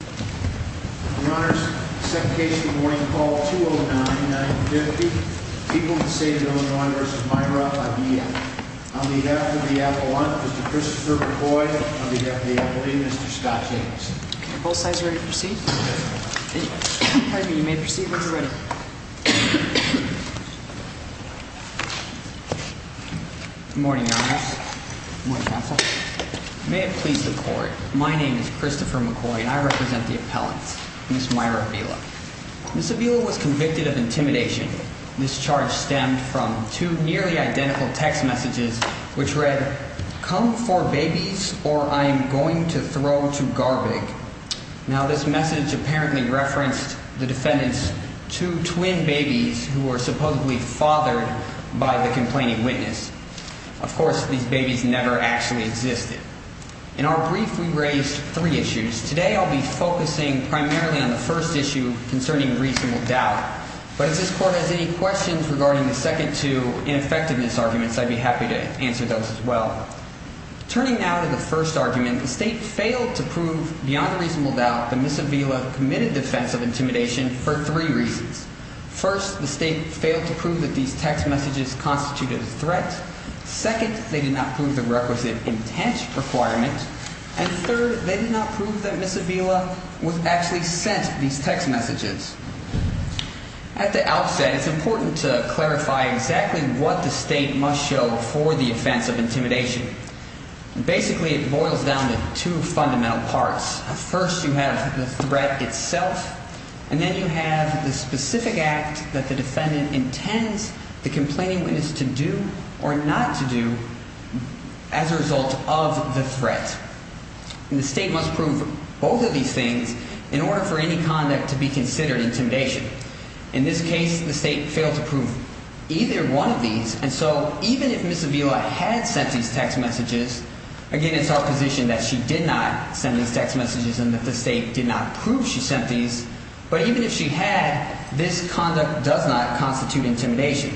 On behalf of the appellant, Mr. Christopher McCoy, on behalf of the appellate, Mr. Scott Jacobson. Are both sides ready to proceed? Pardon me, you may proceed when you're ready. Good morning, Your Honor. Good morning, Counsel. May it please the Court, my name is Christopher McCoy and I represent the District Attorney and I represent the appellant, Ms. Myra Avila. Ms. Avila was convicted of intimidation. This charge stemmed from two nearly identical text messages which read, come for babies or I'm going to throw to garbage. Now this message apparently referenced the defendant's two twin babies who were supposedly fathered by the complaining witness. Of course, these babies never actually existed. In our brief, we raised three issues. Today, I'll be focusing primarily on the first issue concerning reasonable doubt. But if this Court has any questions regarding the second two ineffectiveness arguments, I'd be happy to answer those as well. Turning now to the first argument, the State failed to prove beyond a reasonable doubt that Ms. Avila committed the offense of intimidation for three reasons. First, the State failed to prove that these text messages constituted a threat. Second, they did not prove the requisite intent requirement. And third, they did not prove that Ms. Avila was actually sent these text messages. At the outset, it's important to clarify exactly what the State must show for the offense of intimidation. Basically, it boils down to two fundamental parts. First, you have the threat itself and then you have the specific act that the defendant intends the complaining witness to do or not to do as a result of the threat. And the State must prove both of these things in order for any conduct to be considered intimidation. In this case, the State failed to prove either one of these. And so even if Ms. Avila had sent these text messages, again, it's our position that she did not send these text messages and that the State did not prove she sent these. But even if she had, this conduct does not constitute intimidation.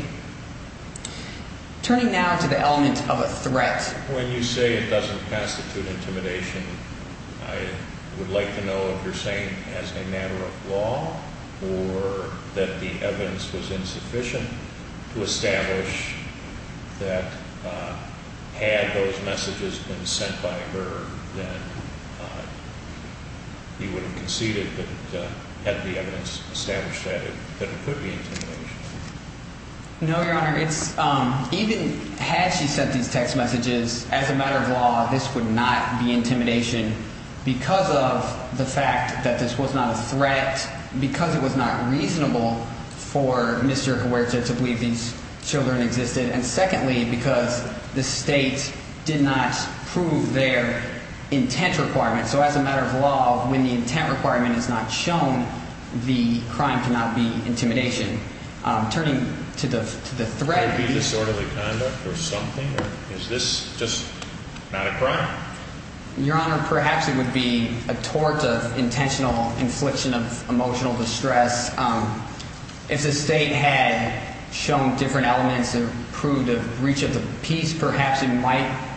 Turning now to the element of a threat. When you say it doesn't constitute intimidation, I would like to know if you're saying as a matter of law or that the evidence was insufficient to establish that had those messages been sent by her, then you would have conceded that had the evidence established that it could be intimidation. No, Your Honor. Even had she sent these text messages, as a matter of law, this would not be intimidation because of the fact that this was not a threat, because it was not reasonable for Mr. Huerta to believe these children existed. And secondly, because the State did not prove their intent requirement. So as a matter of law, when the intent requirement is not shown, the crime cannot be intimidation. Turning to the threat. Could it be disorderly conduct or something? Or is this just not a crime? Your Honor, perhaps it would be a tort of intentional infliction of emotional distress. If the State had shown different elements that proved a breach of the peace, perhaps it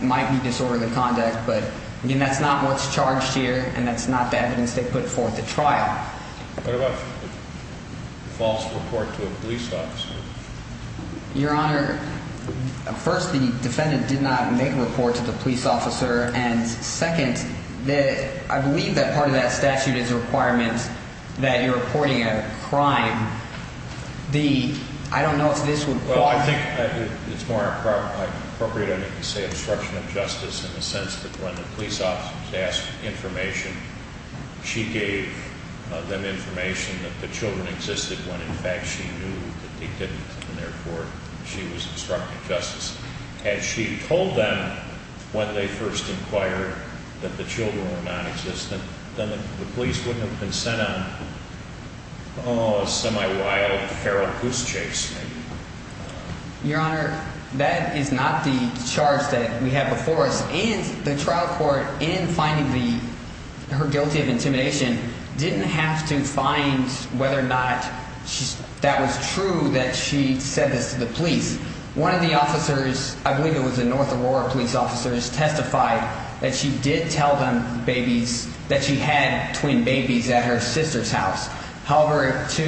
might be disorderly conduct. But that's not what's charged here, and that's not the evidence they put forth at trial. What about a false report to a police officer? Your Honor, first, the defendant did not make a report to the police officer. And second, I believe that part of that statute is a requirement that you're reporting a crime. I don't know if this would qualify. Well, I think it's more appropriate, I think, to say obstruction of justice in the sense that when the police officer was asked for information, she gave them information that the children existed when in fact she knew that they didn't, and therefore she was obstructing justice. Had she told them when they first inquired that the children were nonexistent, then the Oh, semi-wild feral goose chase. Your Honor, that is not the charge that we have before us. And the trial court, in finding her guilty of intimidation, didn't have to find whether or not that was true that she said this to the police. One of the officers, I believe it was a North Aurora police officer, testified that she did tell them that she had twin babies at her sister's house. However, to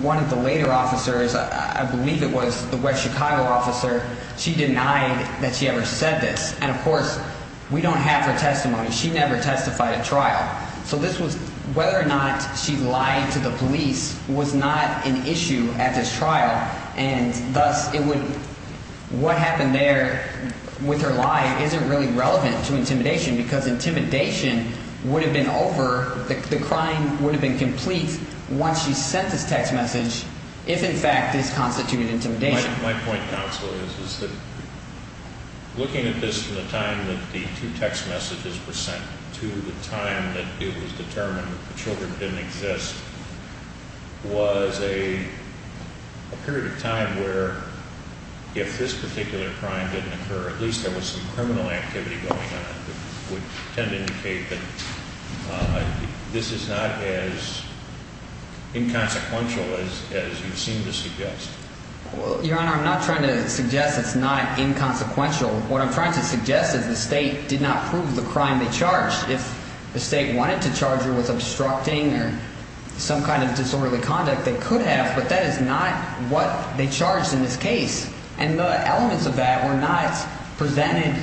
one of the later officers, I believe it was the West Chicago officer, she denied that she ever said this. And of course, we don't have her testimony. She never testified at trial. So this was whether or not she lied to the police was not an issue at this trial, and thus it would, what happened there with her lie isn't really relevant to intimidation because intimidation would have been over, the crime would have been complete once she sent this text message if, in fact, this constituted intimidation. My point, counsel, is that looking at this from the time that the two text messages were sent to the time that it was determined that the children didn't exist was a period of time where if this particular crime didn't occur, at least there was some criminal activity going on that would tend to indicate that this is not as inconsequential as you seem to suggest. Your Honor, I'm not trying to suggest it's not inconsequential. What I'm trying to suggest is the state did not prove the crime they charged. If the state wanted to charge her with obstructing or some kind of disorderly conduct, they could have, but that is not what they charged in this case. And the elements of that were not presented,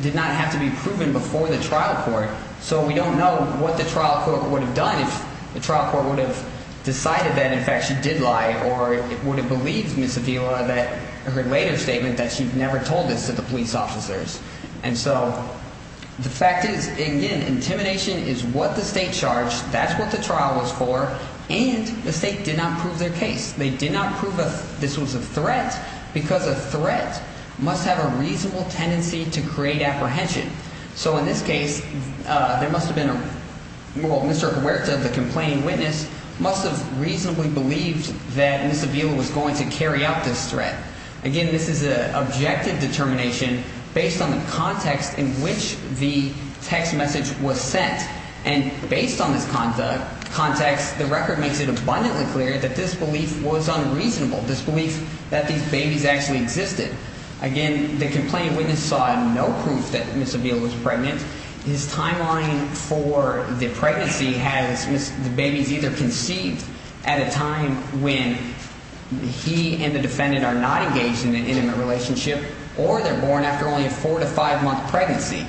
did not have to be proven before the trial court, so we don't know what the trial court would have done if the trial court would have decided that, in fact, she did lie or would have believed Ms. Avila, her later statement, that she never told this to the police officers. And so the fact is, again, intimidation is what the state charged, that's what the trial was for, and the state did not prove their case. They did not prove this was a threat because a threat must have a reasonable tendency to create apprehension. So in this case, there must have been a, well, Mr. Huerta, the complaining witness, must have reasonably believed that Ms. Avila was going to carry out this threat. Again, this is an objective determination based on the context in which the text message was sent, and based on this context, the record makes it abundantly clear that this belief was unreasonable, this belief that these babies actually existed. Again, the complaining witness saw no proof that Ms. Avila was pregnant. His timeline for the pregnancy has the babies either conceived at a time when he and the defendant are not engaged in an intimate relationship or they're born after only a four to five month pregnancy.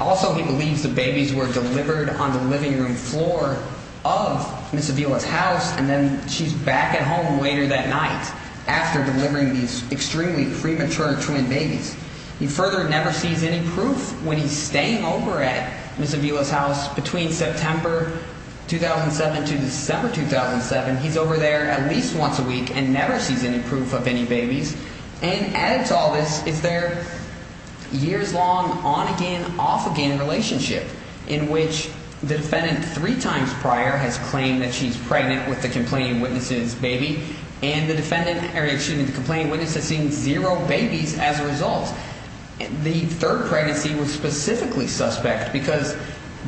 Also, he believes the babies were delivered on the living room floor of Ms. Avila's house and then she's back at home later that night after delivering these extremely premature twin babies. He further never sees any proof when he's staying over at Ms. Avila's house between September 2007 to December 2007. He's over there at least once a week and never sees any proof of any babies. And added to all this is their years-long on-again, off-again relationship in which the defendant three times prior has claimed that she's pregnant with the complaining witness's baby, and the complaining witness has seen zero babies as a result. The third pregnancy was specifically suspect because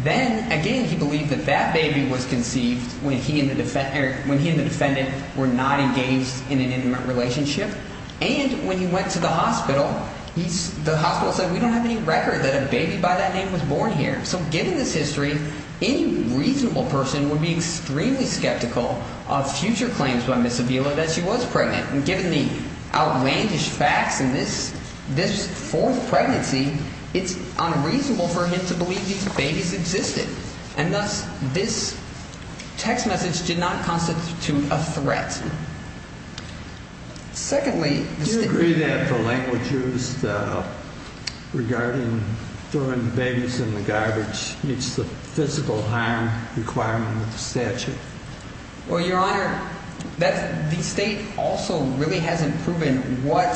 then, again, he believed that that baby was conceived when he and the defendant were not engaged in an intimate relationship. And when he went to the hospital, the hospital said, we don't have any record that a baby by that name was born here. So given this history, any reasonable person would be extremely skeptical of future claims by Ms. Avila that she was pregnant. And given the outlandish facts in this fourth pregnancy, it's unreasonable for him to believe these babies existed. And thus, this text message did not constitute a threat. Secondly... Do you agree that the language used regarding throwing babies in the garbage meets the physical harm requirement of the statute? Well, Your Honor, the state also really hasn't proven what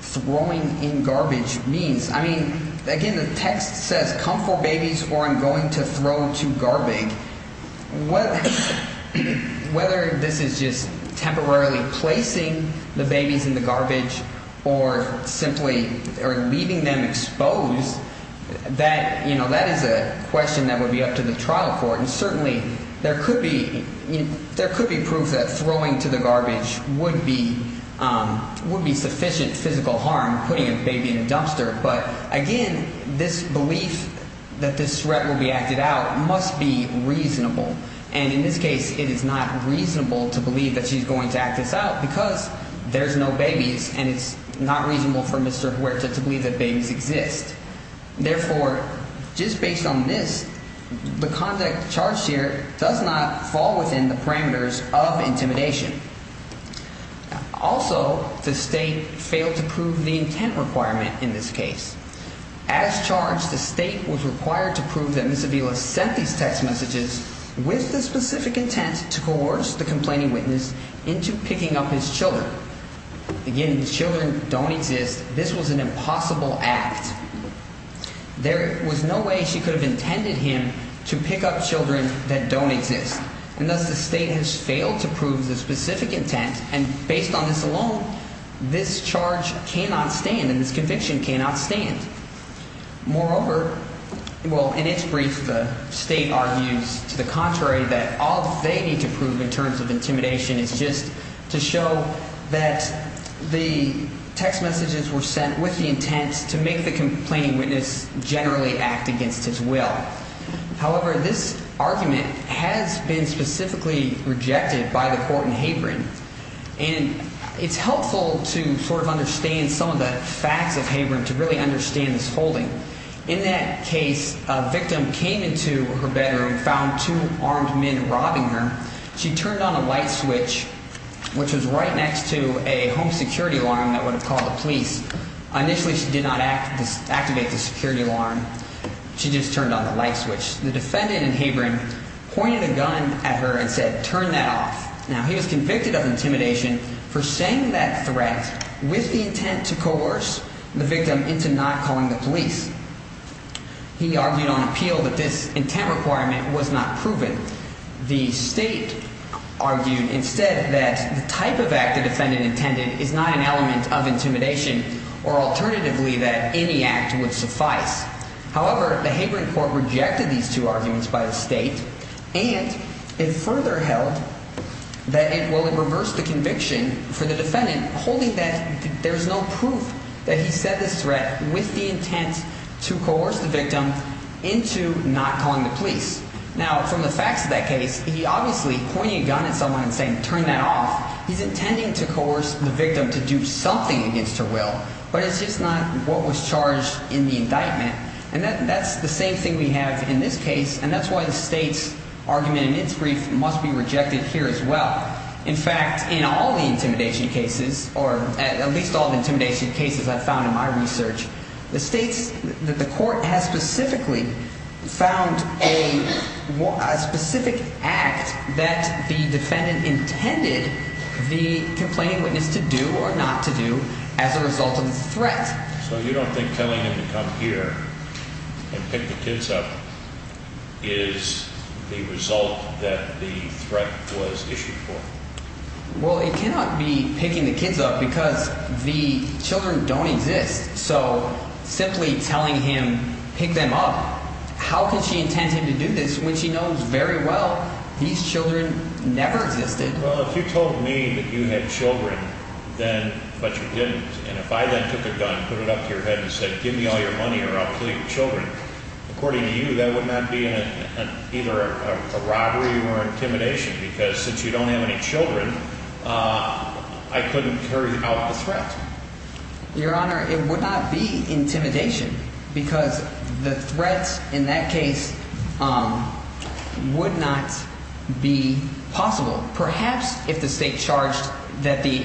throwing in garbage means. I mean, again, the text says, come for babies or I'm going to throw to garbage. Whether this is just temporarily placing the babies in the garbage or simply leaving them exposed, that is a question that would be up to the trial court. And certainly, there could be proof that throwing to the garbage would be sufficient physical harm, putting a baby in a dumpster. But again, this belief that this threat will be acted out must be reasonable. And in this case, it is not reasonable to believe that she's going to act this out because there's no babies and it's not reasonable for Mr. Huerta to believe that babies exist. Therefore, just based on this, the conduct charged here does not fall within the parameters of intimidation. Also, the state failed to prove the intent requirement in this case. As charged, the state was required to prove that Ms. Avila sent these text messages with the specific intent to coerce the complaining witness into picking up his children. Again, the children don't exist. This was an impossible act. There was no way she could have intended him to pick up children that don't exist. And thus, the state has failed to prove the specific intent. And based on this alone, this charge cannot stand and this conviction cannot stand. Moreover, well, in its brief, the state argues to the contrary that all they need to prove in terms of intimidation is just to show that the text messages were sent with the intent to make the complaining witness generally act against his will. However, this argument has been specifically rejected by the court in Havering. And it's helpful to sort of understand some of the facts of Havering to really understand this holding. In that case, a victim came into her bedroom, found two armed men robbing her. She turned on a light switch, which was right next to a home security alarm that would have called the police. Initially, she did not activate the security alarm. She just turned on the light switch. The defendant in Havering pointed a gun at her and said, turn that off. Now, he was convicted of intimidation for saying that threat with the intent to coerce the victim into not calling the police. He argued on appeal that this intent requirement was not proven. The state argued instead that the type of act the defendant intended is not an element of intimidation, or alternatively that any act would suffice. However, the Havering court rejected these two arguments by the state. And it further held that it will reverse the conviction for the defendant, holding that there's no proof that he said this threat with the intent to coerce the victim into not calling the police. Now, from the facts of that case, he obviously pointed a gun at someone and said, turn that off. He's intending to coerce the victim to do something against her will, but it's just not what was charged in the indictment. And that's the same thing we have in this case, and that's why the state's argument in its brief must be rejected here as well. In fact, in all the intimidation cases, or at least all the intimidation cases I've found in my research, the court has specifically found a specific act that the defendant intended the complaining witness to do or not to do as a result of the threat. So you don't think telling him to come here and pick the kids up is the result that the threat was issued for? Well, it cannot be picking the kids up because the children don't exist. So simply telling him, pick them up, how could she intend him to do this when she knows very well these children never existed? Well, if you told me that you had children, but you didn't, and if I then took a gun, put it up to your head and said, give me all your money or I'll kill your children, according to you, that would not be either a robbery or intimidation because since you don't have any children, I couldn't carry out the threat. Your Honor, it would not be intimidation because the threat in that case would not be possible. Perhaps if the state charged that the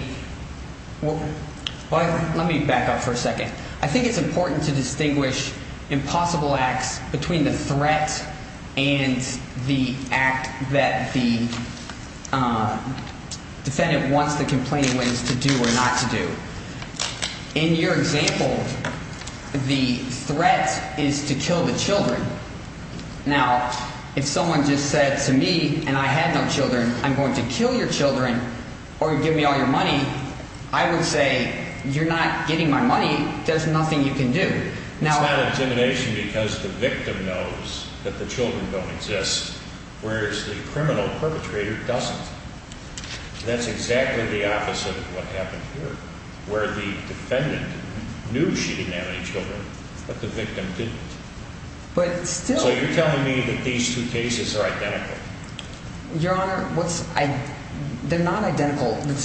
– let me back up for a second. I think it's important to distinguish impossible acts between the threat and the act that the defendant wants the complaining witness to do or not to do. In your example, the threat is to kill the children. Now, if someone just said to me, and I had no children, I'm going to kill your children or give me all your money, I would say you're not getting my money. There's nothing you can do. It's not intimidation because the victim knows that the children don't exist, whereas the criminal perpetrator doesn't. That's exactly the opposite of what happened here where the defendant knew she didn't have any children, but the victim didn't. So you're telling me that these two cases are identical? Your Honor, they're not identical. You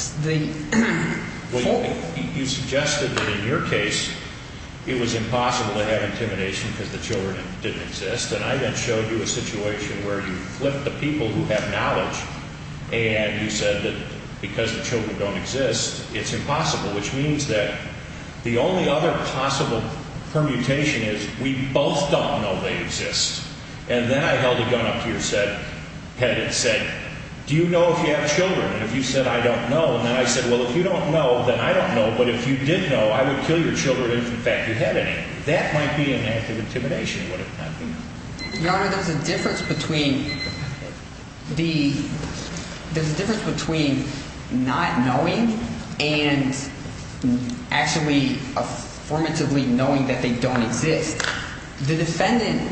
suggested that in your case it was impossible to have intimidation because the children didn't exist, and I then showed you a situation where you flipped the people who have knowledge and you said that because the children don't exist, it's impossible, which means that the only other possible permutation is we both don't know they exist. And then I held a gun up to your head and said, do you know if you have children? And if you said, I don't know, and then I said, well, if you don't know, then I don't know, but if you did know, I would kill your children if, in fact, you had any. That might be an act of intimidation. Your Honor, there's a difference between not knowing and actually affirmatively knowing that they don't exist. The defendant,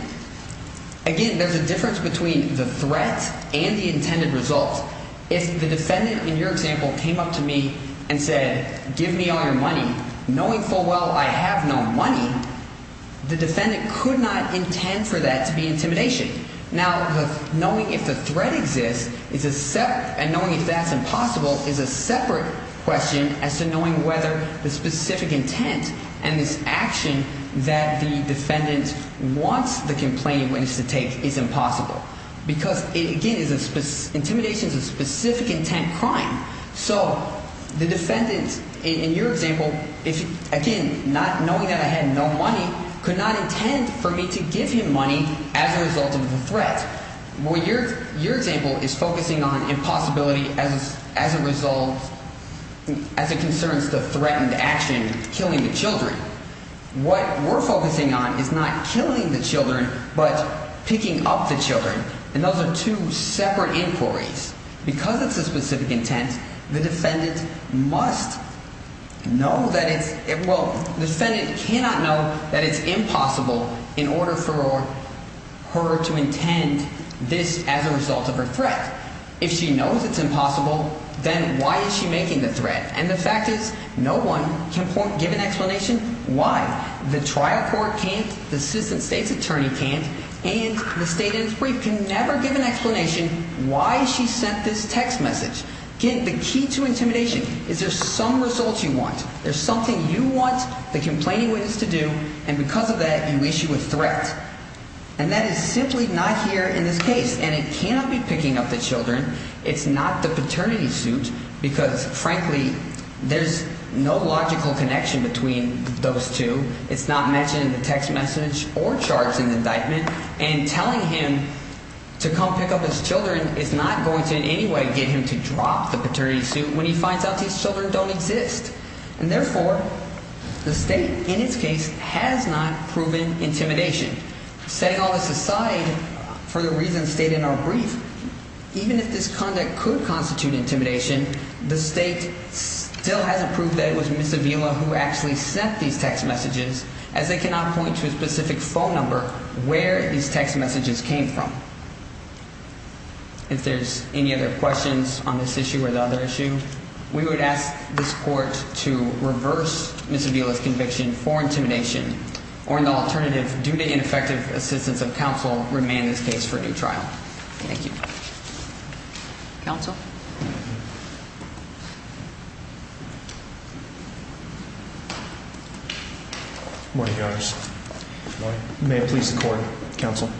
again, there's a difference between the threat and the intended result. If the defendant, in your example, came up to me and said, give me all your money, knowing full well I have no money, the defendant could not intend for that to be intimidation. Now, knowing if the threat exists and knowing if that's impossible is a separate question as to knowing whether the specific intent and this action that the defendant wants the complaining witness to take is impossible because, again, intimidation is a specific intent crime. So the defendant, in your example, again, knowing that I had no money, could not intend for me to give him money as a result of the threat. Your example is focusing on impossibility as a result, as it concerns the threatened action, killing the children. What we're focusing on is not killing the children but picking up the children, and those are two separate inquiries. Because it's a specific intent, the defendant must know that it's, well, the defendant cannot know that it's impossible in order for her to intend this as a result of her threat. If she knows it's impossible, then why is she making the threat? And the fact is, no one can give an explanation why. The trial court can't, the citizen state's attorney can't, and the state interpreter can never give an explanation why she sent this text message. Again, the key to intimidation is there's some result you want. There's something you want the complaining witness to do, and because of that, you issue a threat. And that is simply not here in this case, and it cannot be picking up the children. It's not the paternity suit because, frankly, there's no logical connection between those two. It's not mentioned in the text message or charged in the indictment, and telling him to come pick up his children is not going to in any way get him to drop the paternity suit when he finds out these children don't exist. And therefore, the state, in its case, has not proven intimidation. Setting all this aside for the reasons stated in our brief, even if this conduct could constitute intimidation, the state still hasn't proved that it was Miss Avila who actually sent these text messages, as they cannot point to a specific phone number where these text messages came from. If there's any other questions on this issue or the other issue, we would ask this court to reverse Miss Avila's conviction for intimidation, or in the alternative, due to ineffective assistance of counsel, remand this case for a new trial. Thank you. Counsel? Good morning, Your Honors. Good morning. May it please the Court, Counsel.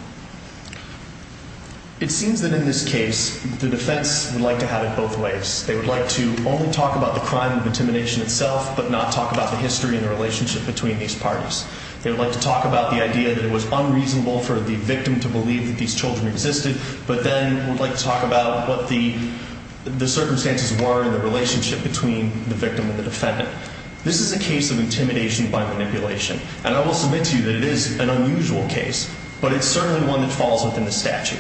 It seems that in this case, the defense would like to have it both ways. They would like to only talk about the crime of intimidation itself, but not talk about the history and the relationship between these parties. They would like to talk about the idea that it was unreasonable for the victim to believe that these children existed, but then would like to talk about what the circumstances were and the relationship between the victim and the defendant. This is a case of intimidation by manipulation, and I will submit to you that it is an unusual case, but it's certainly one that falls within the statute.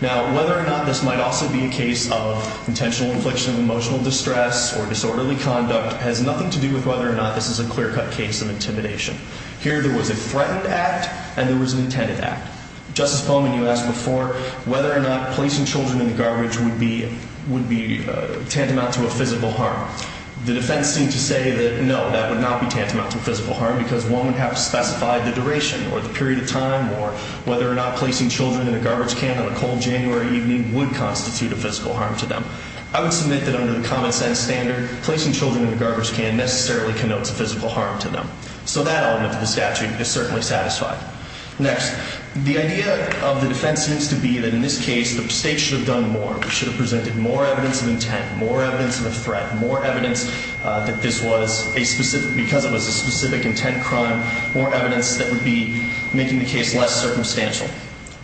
Now, whether or not this might also be a case of intentional infliction of emotional distress or disorderly conduct has nothing to do with whether or not this is a clear-cut case of intimidation. Here, there was a threatened act, and there was an intended act. Justice Pullman, you asked before whether or not placing children in the garbage would be tantamount to a physical harm. The defense seemed to say that no, that would not be tantamount to a physical harm because one would have to specify the duration or the period of time or whether or not placing children in a garbage can on a cold January evening would constitute a physical harm to them. I would submit that under the common-sense standard, placing children in a garbage can necessarily connotes a physical harm to them. So that element of the statute is certainly satisfied. Next, the idea of the defense seems to be that in this case, the state should have done more evidence of intent, more evidence of a threat, more evidence that this was a specific intent crime, more evidence that would be making the case less circumstantial.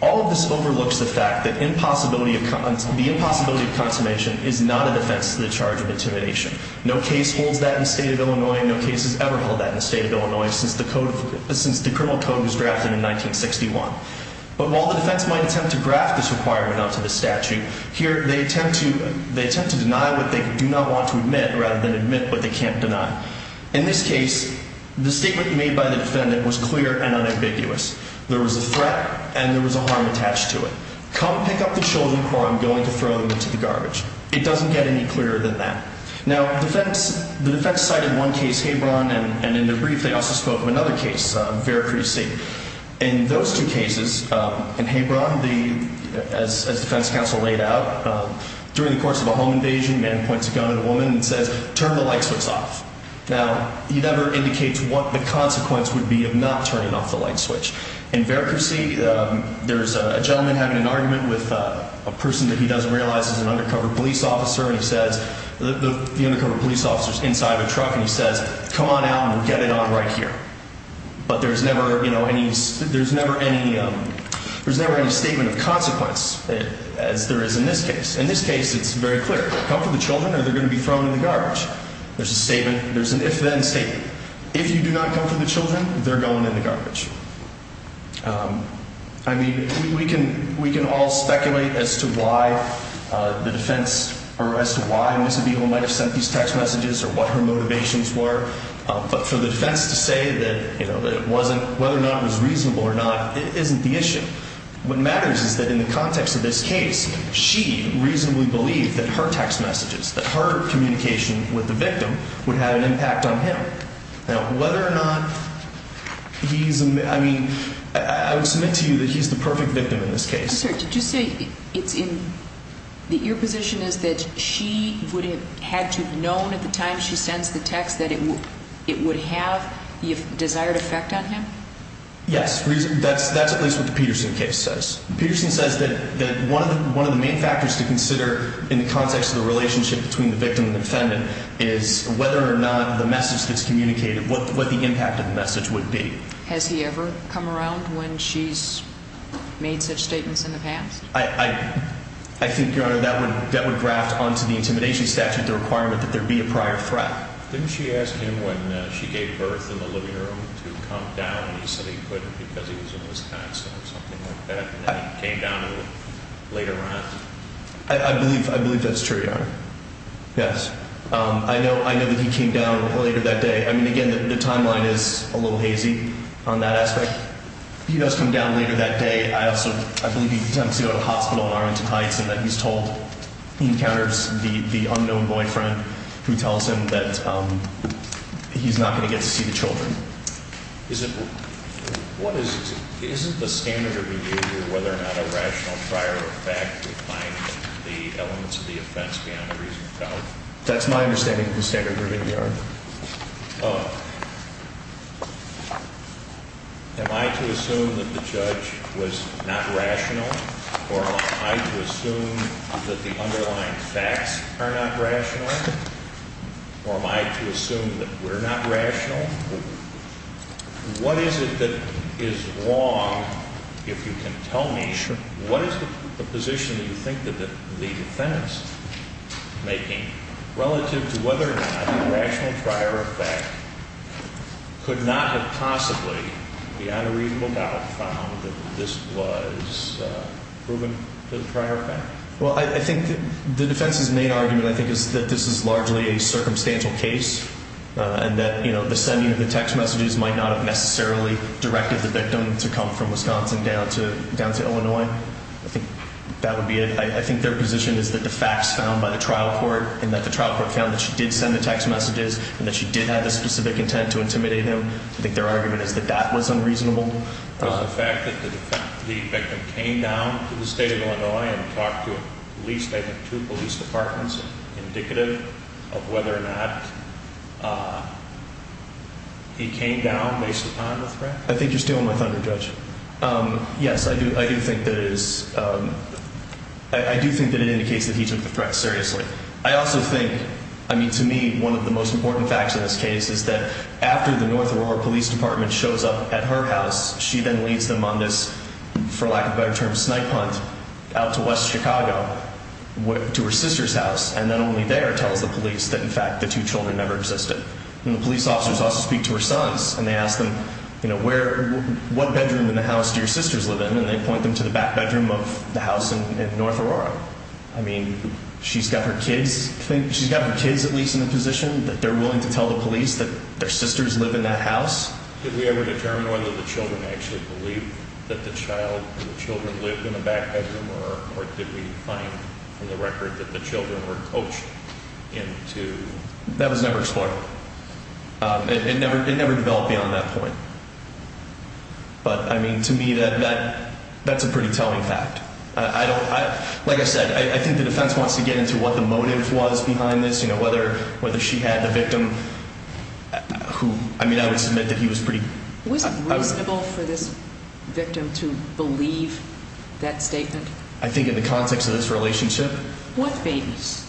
All of this overlooks the fact that the impossibility of consummation is not a defense to the charge of intimidation. No case holds that in the state of Illinois, and no case has ever held that in the state of Illinois since the criminal code was drafted in 1961. But while the defense might attempt to graft this requirement onto the statute, here they attempt to deny what they do not want to admit rather than admit what they can't deny. In this case, the statement made by the defendant was clear and unambiguous. There was a threat, and there was a harm attached to it. Come pick up the children before I'm going to throw them into the garbage. It doesn't get any clearer than that. Now, the defense cited one case, Hebron, and in the brief they also spoke of another case, Veracruci. In those two cases, in Hebron, as defense counsel laid out, during the course of a home invasion, a man points a gun at a woman and says, turn the light switch off. Now, he never indicates what the consequence would be of not turning off the light switch. In Veracruci, there's a gentleman having an argument with a person that he doesn't realize is an undercover police officer, and he says, the undercover police officer is inside a truck, and he says, come on out and we'll get it on right here. But there's never any statement of consequence, as there is in this case. In this case, it's very clear. Come for the children, or they're going to be thrown in the garbage. There's a statement. There's an if-then statement. If you do not come for the children, they're going in the garbage. I mean, we can all speculate as to why the defense, or as to why Ms. Avila might have sent these text messages, or what her motivations were. But for the defense to say that it wasn't, whether or not it was reasonable or not, isn't the issue. What matters is that in the context of this case, she reasonably believed that her text messages, that her communication with the victim, would have an impact on him. Now, whether or not he's, I mean, I would submit to you that he's the perfect victim in this case. Mr. Sir, did you say it's in, that your position is that she would have had to have known at the time she sends the text that it would have the desired effect on him? Yes. That's at least what the Peterson case says. Peterson says that one of the main factors to consider in the context of the relationship between the victim and the defendant is whether or not the message that's communicated, what the impact of the message would be. Has he ever come around when she's made such statements in the past? I, I, I think, Your Honor, that would, that would graft onto the intimidation statute the requirement that there be a prior threat. Didn't she ask him when she gave birth in the living room to come down, and he said he couldn't because he was in Wisconsin or something like that, and then he came down later on? I, I believe, I believe that's true, Your Honor. Yes. I know, I know that he came down later that day. I mean, again, the timeline is a little hazy on that aspect. He does come down later that day. I also, I believe he attempts to go to the hospital in Arlington Heights and that he's told he encounters the, the unknown boyfriend who tells him that he's not going to get to see the children. Is it, what is, isn't the standard of behavior whether or not a rational prior effect defying the elements of the offense beyond a reasonable doubt? That's my understanding of the standard of behavior, Your Honor. Oh. Am I to assume that the judge was not rational? Or am I to assume that the underlying facts are not rational? Or am I to assume that we're not rational? What is it that is wrong, if you can tell me? Sure. What is the position that you think that the defense is making relative to whether or not a rational prior effect could not have possibly beyond a reasonable doubt found that this was proven to be a prior effect? Well, I think the defense's main argument, I think, is that this is largely a circumstantial case and that, you know, the sending of the text messages might not have necessarily directed the victim to come from Wisconsin down to Illinois. I think that would be it. I think their position is that the facts found by the trial court and that the trial court found that she did send the text messages and that she did have the specific intent to intimidate him. I think their argument is that that was unreasonable. Was the fact that the victim came down to the state of Illinois and talked to at least, I think, two police departments indicative of whether or not he came down based upon the threat? I think you're stealing my thunder, Judge. Yes, I do think that it is, I do think that it indicates that he took the threat seriously. I also think, I mean, to me, one of the most important facts in this case is that after the North Aurora Police Department shows up at her house, she then leads them on this, for lack of a better term, snipe hunt out to West Chicago, to her sister's house, and then only there tells the police that, in fact, the two children never existed. And the police officers also speak to her sons, and they ask them, you know, where, what bedroom in the house do your sisters live in? And they point them to the back bedroom of the house in North Aurora. I mean, she's got her kids, she's got her kids at least in the position that they're willing to tell the police that their sisters live in that house. Did we ever determine whether the children actually believe that the child, the children lived in the back bedroom, or did we find from the record that the children were coached into... That was never explored. It never developed beyond that point. But, I mean, to me, that's a pretty telling fact. Like I said, I think the defense wants to get into what the motive was behind this, you know, whether she had the victim who, I mean, I would submit that he was pretty... Was it reasonable for this victim to believe that statement? I think in the context of this relationship... With babies.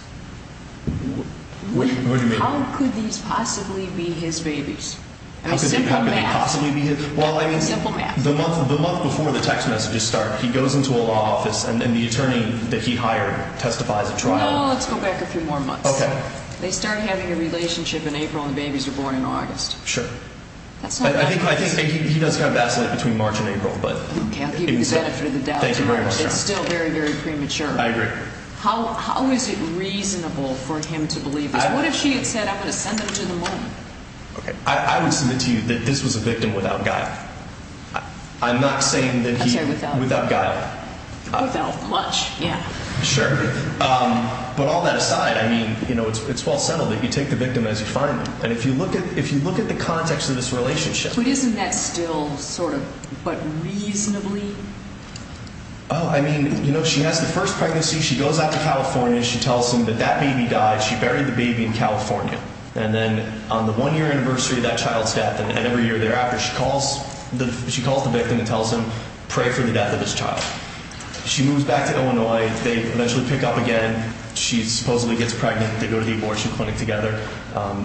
What do you mean? How could these possibly be his babies? How could they possibly be his? Well, I mean, the month before the text messages start, he goes into a law office and the attorney that he hired testifies at trial. No, let's go back a few more months. Okay. They start having a relationship in April and the babies are born in August. Sure. I think he does kind of vacillate between March and April, but... Okay, I'll give you the benefit of the doubt. Thank you very much. It's still very, very premature. I agree. How is it reasonable for him to believe this? What if she had said, I'm going to send them to the mom? Okay. I would submit to you that this was a victim without guile. I'm not saying that he... I'm sorry, without... Without guile. Without much, yeah. Sure. But all that aside, I mean, you know, it's well settled that you take the victim as you find them. And if you look at the context of this relationship... But isn't that still sort of, but reasonably? Oh, I mean, you know, she has the first pregnancy. She goes out to California. She tells him that that baby died. She buried the baby in California. And then on the one-year anniversary of that child's death and every year thereafter, she calls the victim and tells him, pray for the death of his child. She moves back to Illinois. They eventually pick up again. She supposedly gets pregnant. They go to the abortion clinic together.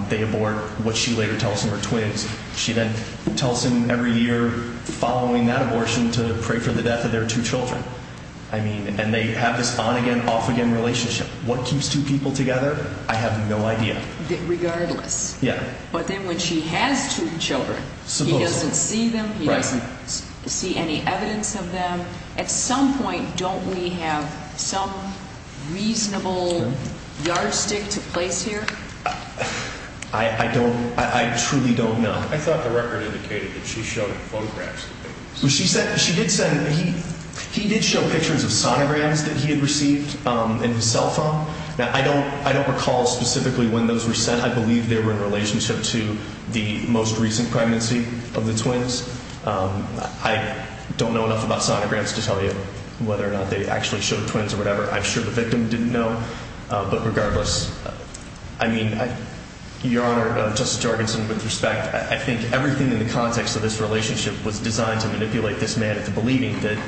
They abort, which she later tells him were twins. She then tells him every year following that abortion to pray for the death of their two children. I mean, and they have this on-again, off-again relationship. What keeps two people together? I have no idea. Regardless. Yeah. But then when she has two children, he doesn't see them. He doesn't see any evidence of them. At some point, don't we have some reasonable yardstick to place here? I don't – I truly don't know. I thought the record indicated that she showed photographs of the babies. She did send – he did show pictures of sonograms that he had received in his cell phone. Now, I don't recall specifically when those were sent. I believe they were in relationship to the most recent pregnancy of the twins. I don't know enough about sonograms to tell you whether or not they actually showed twins or whatever. I'm sure the victim didn't know. But regardless, I mean, Your Honor, Justice Jorgensen, with respect, I think everything in the context of this relationship was designed to manipulate this man into believing that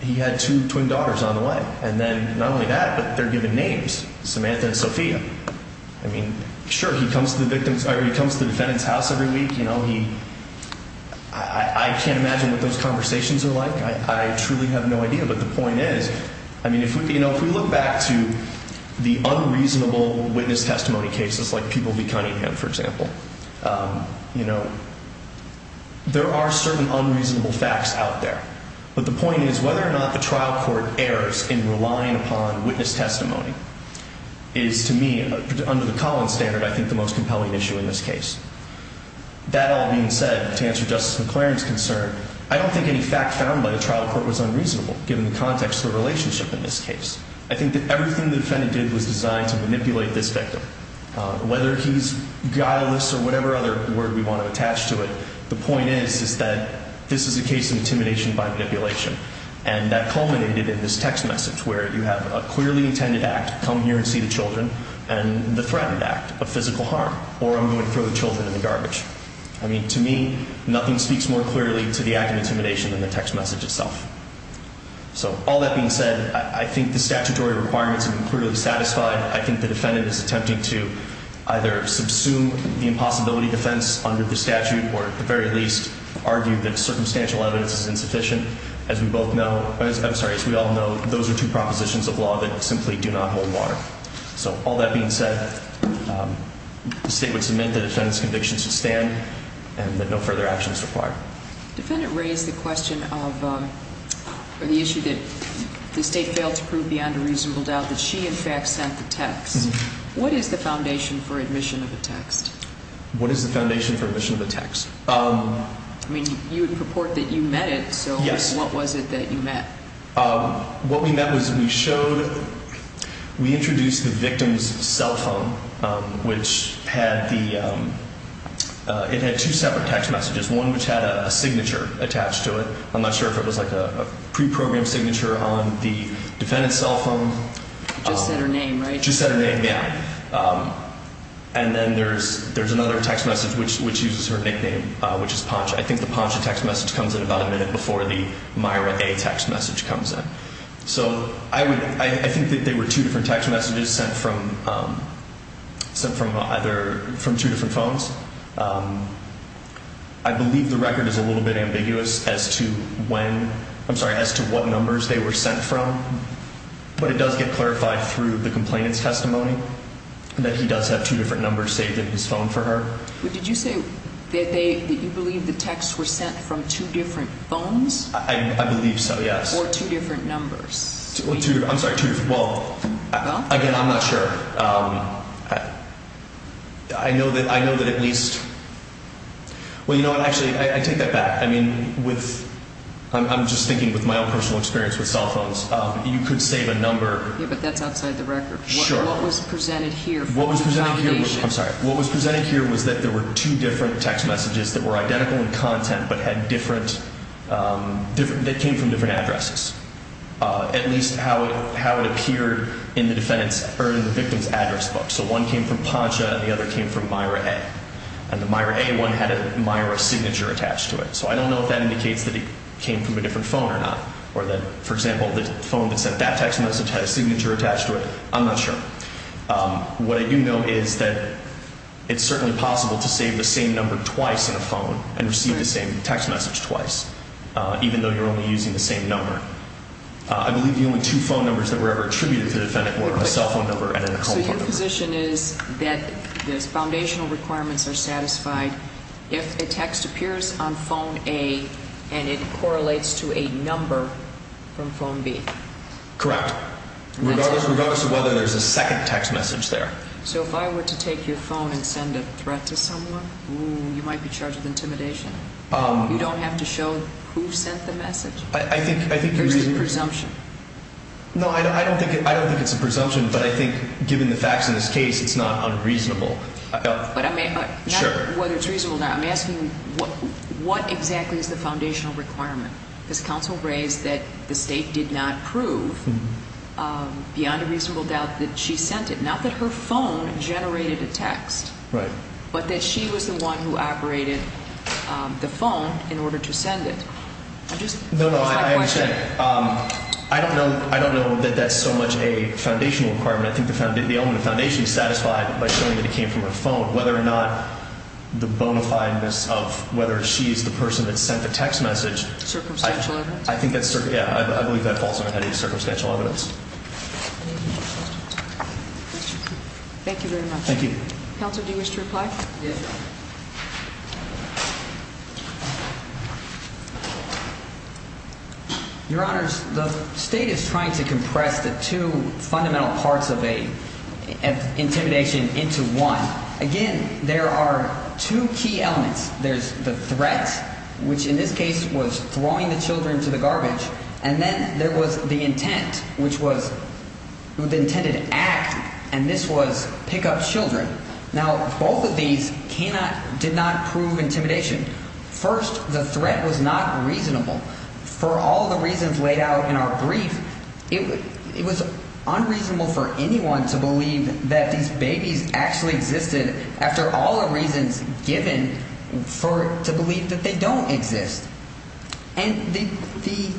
he had two twin daughters on the way. And then not only that, but they're given names, Samantha and Sophia. I mean, sure, he comes to the defendant's house every week. You know, he – I can't imagine what those conversations are like. I truly have no idea. But the point is, I mean, if we look back to the unreasonable witness testimony cases like People v. Cunningham, for example, you know, there are certain unreasonable facts out there. But the point is whether or not the trial court errs in relying upon witness testimony is, to me, under the Collins standard, I think the most compelling issue in this case. That all being said, to answer Justice McLaren's concern, I don't think any fact found by the trial court was unreasonable, given the context of the relationship in this case. I think that everything the defendant did was designed to manipulate this victim. Whether he's guileless or whatever other word we want to attach to it, the point is, is that this is a case of intimidation by manipulation. And that culminated in this text message where you have a clearly intended act, come here and see the children, and the threatened act of physical harm, or I'm going to throw the children in the garbage. I mean, to me, nothing speaks more clearly to the act of intimidation than the text message itself. So all that being said, I think the statutory requirements are clearly satisfied. I think the defendant is attempting to either subsume the impossibility defense under the statute, or at the very least argue that circumstantial evidence is insufficient. As we both know, I'm sorry, as we all know, those are two propositions of law that simply do not hold water. So all that being said, the state would submit the defendant's conviction to stand, and that no further action is required. The defendant raised the question of, or the issue that the state failed to prove beyond a reasonable doubt that she in fact sent the text. What is the foundation for admission of a text? What is the foundation for admission of a text? I mean, you would purport that you met it, so what was it that you met? What we met was we showed, we introduced the victim's cell phone, which had the, it had two separate text messages, one which had a signature attached to it. I'm not sure if it was like a preprogrammed signature on the defendant's cell phone. Just said her name, right? Just said her name, yeah. And then there's another text message which uses her nickname, which is Poncha. I think the Poncha text message comes in about a minute before the Myra A text message comes in. So I would, I think that they were two different text messages sent from, sent from either, from two different phones. I believe the record is a little bit ambiguous as to when, I'm sorry, as to what numbers they were sent from, but it does get clarified through the complainant's testimony that he does have two different numbers saved in his phone for her. Did you say that they, that you believe the texts were sent from two different phones? I believe so, yes. Or two different numbers? Well, two, I'm sorry, two, well, again, I'm not sure. I know that, I know that at least, well, you know what, actually, I take that back. I mean, with, I'm just thinking with my own personal experience with cell phones, you could save a number. Yeah, but that's outside the record. Sure. What was presented here for the foundation? I'm sorry, what was presented here was that there were two different text messages that were identical in content but had different, that came from different addresses, at least how it appeared in the defendant's or in the victim's address book. So one came from Poncha and the other came from Myra A. And the Myra A one had a Myra signature attached to it. So I don't know if that indicates that it came from a different phone or not, or that, for example, the phone that sent that text message had a signature attached to it. I'm not sure. What I do know is that it's certainly possible to save the same number twice in a phone and receive the same text message twice, even though you're only using the same number. I believe the only two phone numbers that were ever attributed to the defendant were a cell phone number and a home phone number. So your position is that those foundational requirements are satisfied if a text appears on phone A and it correlates to a number from phone B? Correct. Regardless of whether there's a second text message there. So if I were to take your phone and send a threat to someone, you might be charged with intimidation. You don't have to show who sent the message? I think you're using presumption. No, I don't think it's a presumption, but I think given the facts in this case, it's not unreasonable. But I mean, not whether it's reasonable or not. I'm asking what exactly is the foundational requirement? Because counsel raised that the State did not prove beyond a reasonable doubt that she sent it. Not that her phone generated a text, but that she was the one who operated the phone in order to send it. I'm just trying to question it. No, no, I understand. I don't know that that's so much a foundational requirement. I think the element of foundation is satisfied by showing that it came from her phone. Whether or not the bonafideness of whether she's the person that sent the text message. Circumstantial evidence? I think that's, yeah. I believe that falls under any circumstantial evidence. Thank you very much. Thank you. Counsel, do you wish to reply? Yes. Your Honors, the State is trying to compress the two fundamental parts of intimidation into one. Again, there are two key elements. There's the threat, which in this case was throwing the children to the garbage. And then there was the intent, which was the intended act, and this was pick up children. Now, both of these cannot – did not prove intimidation. First, the threat was not reasonable. For all the reasons laid out in our brief, it was unreasonable for anyone to believe that these babies actually existed after all the reasons given to believe that they don't exist. And the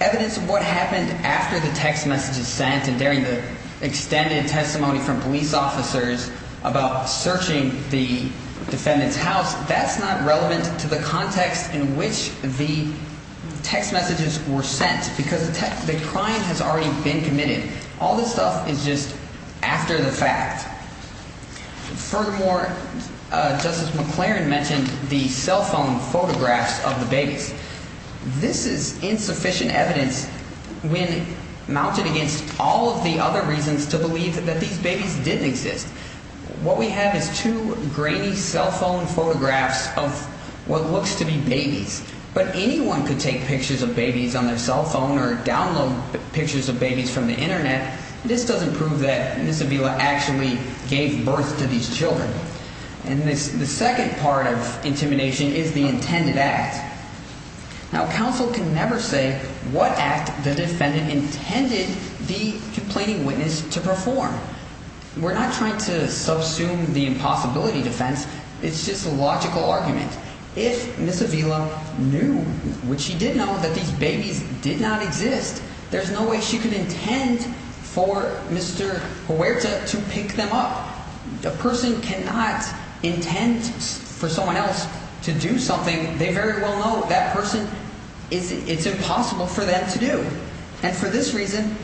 evidence of what happened after the text messages sent and during the extended testimony from police officers about searching the defendant's house, that's not relevant to the context in which the text messages were sent because the crime has already been committed. All this stuff is just after the fact. Furthermore, Justice McLaren mentioned the cell phone photographs of the babies. This is insufficient evidence when mounted against all of the other reasons to believe that these babies didn't exist. What we have is two grainy cell phone photographs of what looks to be babies. But anyone could take pictures of babies on their cell phone or download pictures of babies from the Internet. This doesn't prove that Miss Avila actually gave birth to these children. And the second part of intimidation is the intended act. Now, counsel can never say what act the defendant intended the complaining witness to perform. We're not trying to subsume the impossibility defense. It's just a logical argument. If Miss Avila knew, which she did know, that these babies did not exist, there's no way she could intend for Mr. Huerta to pick them up. A person cannot intend for someone else to do something they very well know that person, it's impossible for them to do. And for this reason,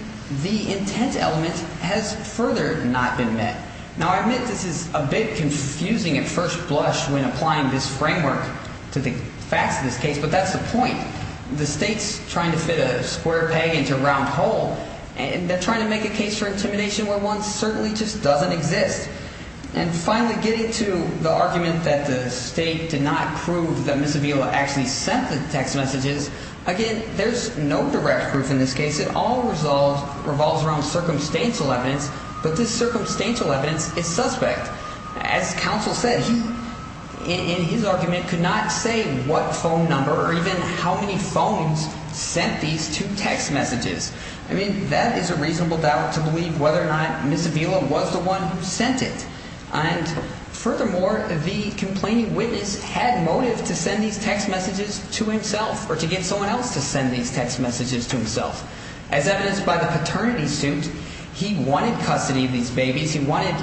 the intent element has further not been met. Now, I admit this is a bit confusing at first blush when applying this framework to the facts of this case, but that's the point. The state's trying to fit a square peg into a round hole, and they're trying to make a case for intimidation where one certainly just doesn't exist. And finally, getting to the argument that the state did not prove that Miss Avila actually sent the text messages, again, there's no direct proof in this case. It all revolves around circumstantial evidence, but this circumstantial evidence is suspect. As counsel said, he in his argument could not say what phone number or even how many phones sent these two text messages. I mean, that is a reasonable doubt to believe whether or not Miss Avila was the one who sent it. And furthermore, the complaining witness had motive to send these text messages to himself or to get someone else to send these text messages to himself. As evidenced by the paternity suit, he wanted custody of these babies. He wanted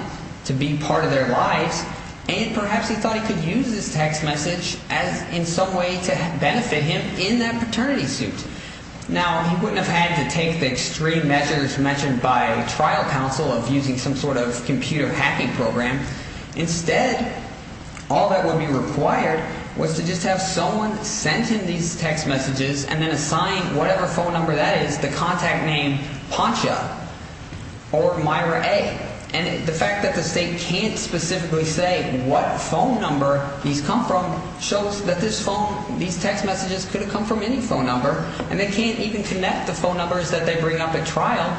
to be part of their lives. And perhaps he thought he could use this text message as in some way to benefit him in that paternity suit. Now, he wouldn't have had to take the extreme measures mentioned by trial counsel of using some sort of computer hacking program. Instead, all that would be required was to just have someone send him these text messages and then assign whatever phone number that is the contact name Poncha or Myra A. And the fact that the state can't specifically say what phone number these come from shows that this phone, these text messages could have come from any phone number. And they can't even connect the phone numbers that they bring up at trial.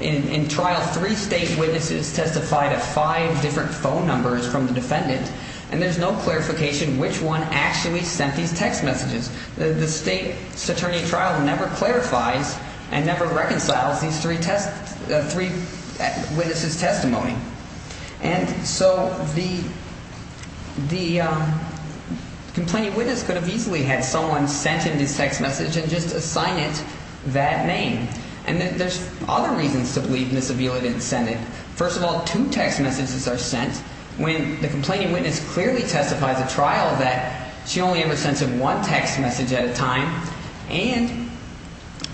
In trial, three state witnesses testified at five different phone numbers from the defendant. And there's no clarification which one actually sent these text messages. The state's attorney trial never clarifies and never reconciles these three witnesses' testimony. And so the complaining witness could have easily had someone sent him this text message and just assigned it that name. And there's other reasons to believe Ms. Avila didn't send it. First of all, two text messages are sent when the complaining witness clearly testifies at trial that she only ever sends him one text message at a time. And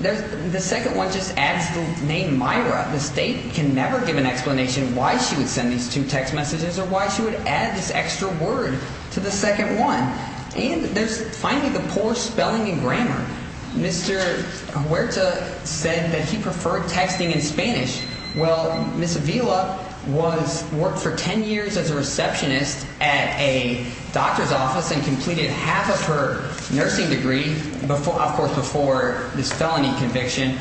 the second one just adds the name Myra. The state can never give an explanation why she would send these two text messages or why she would add this extra word to the second one. And there's finally the poor spelling and grammar. Mr. Huerta said that he preferred texting in Spanish. Well, Ms. Avila worked for ten years as a receptionist at a doctor's office and completed half of her nursing degree, of course, before this felony conviction.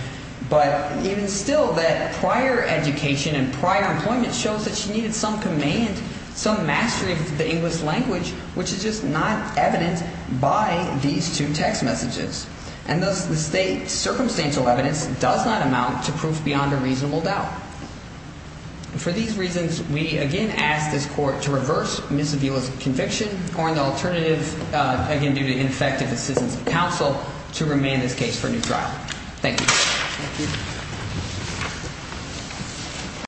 But even still, that prior education and prior employment shows that she needed some command, some mastery of the English language, which is just not evident by these two text messages. And thus the state's circumstantial evidence does not amount to proof beyond a reasonable doubt. And for these reasons, we again ask this court to reverse Ms. Avila's conviction or an alternative, again due to ineffective assistance of counsel, to remain this case for a new trial. Thank you. Thank you.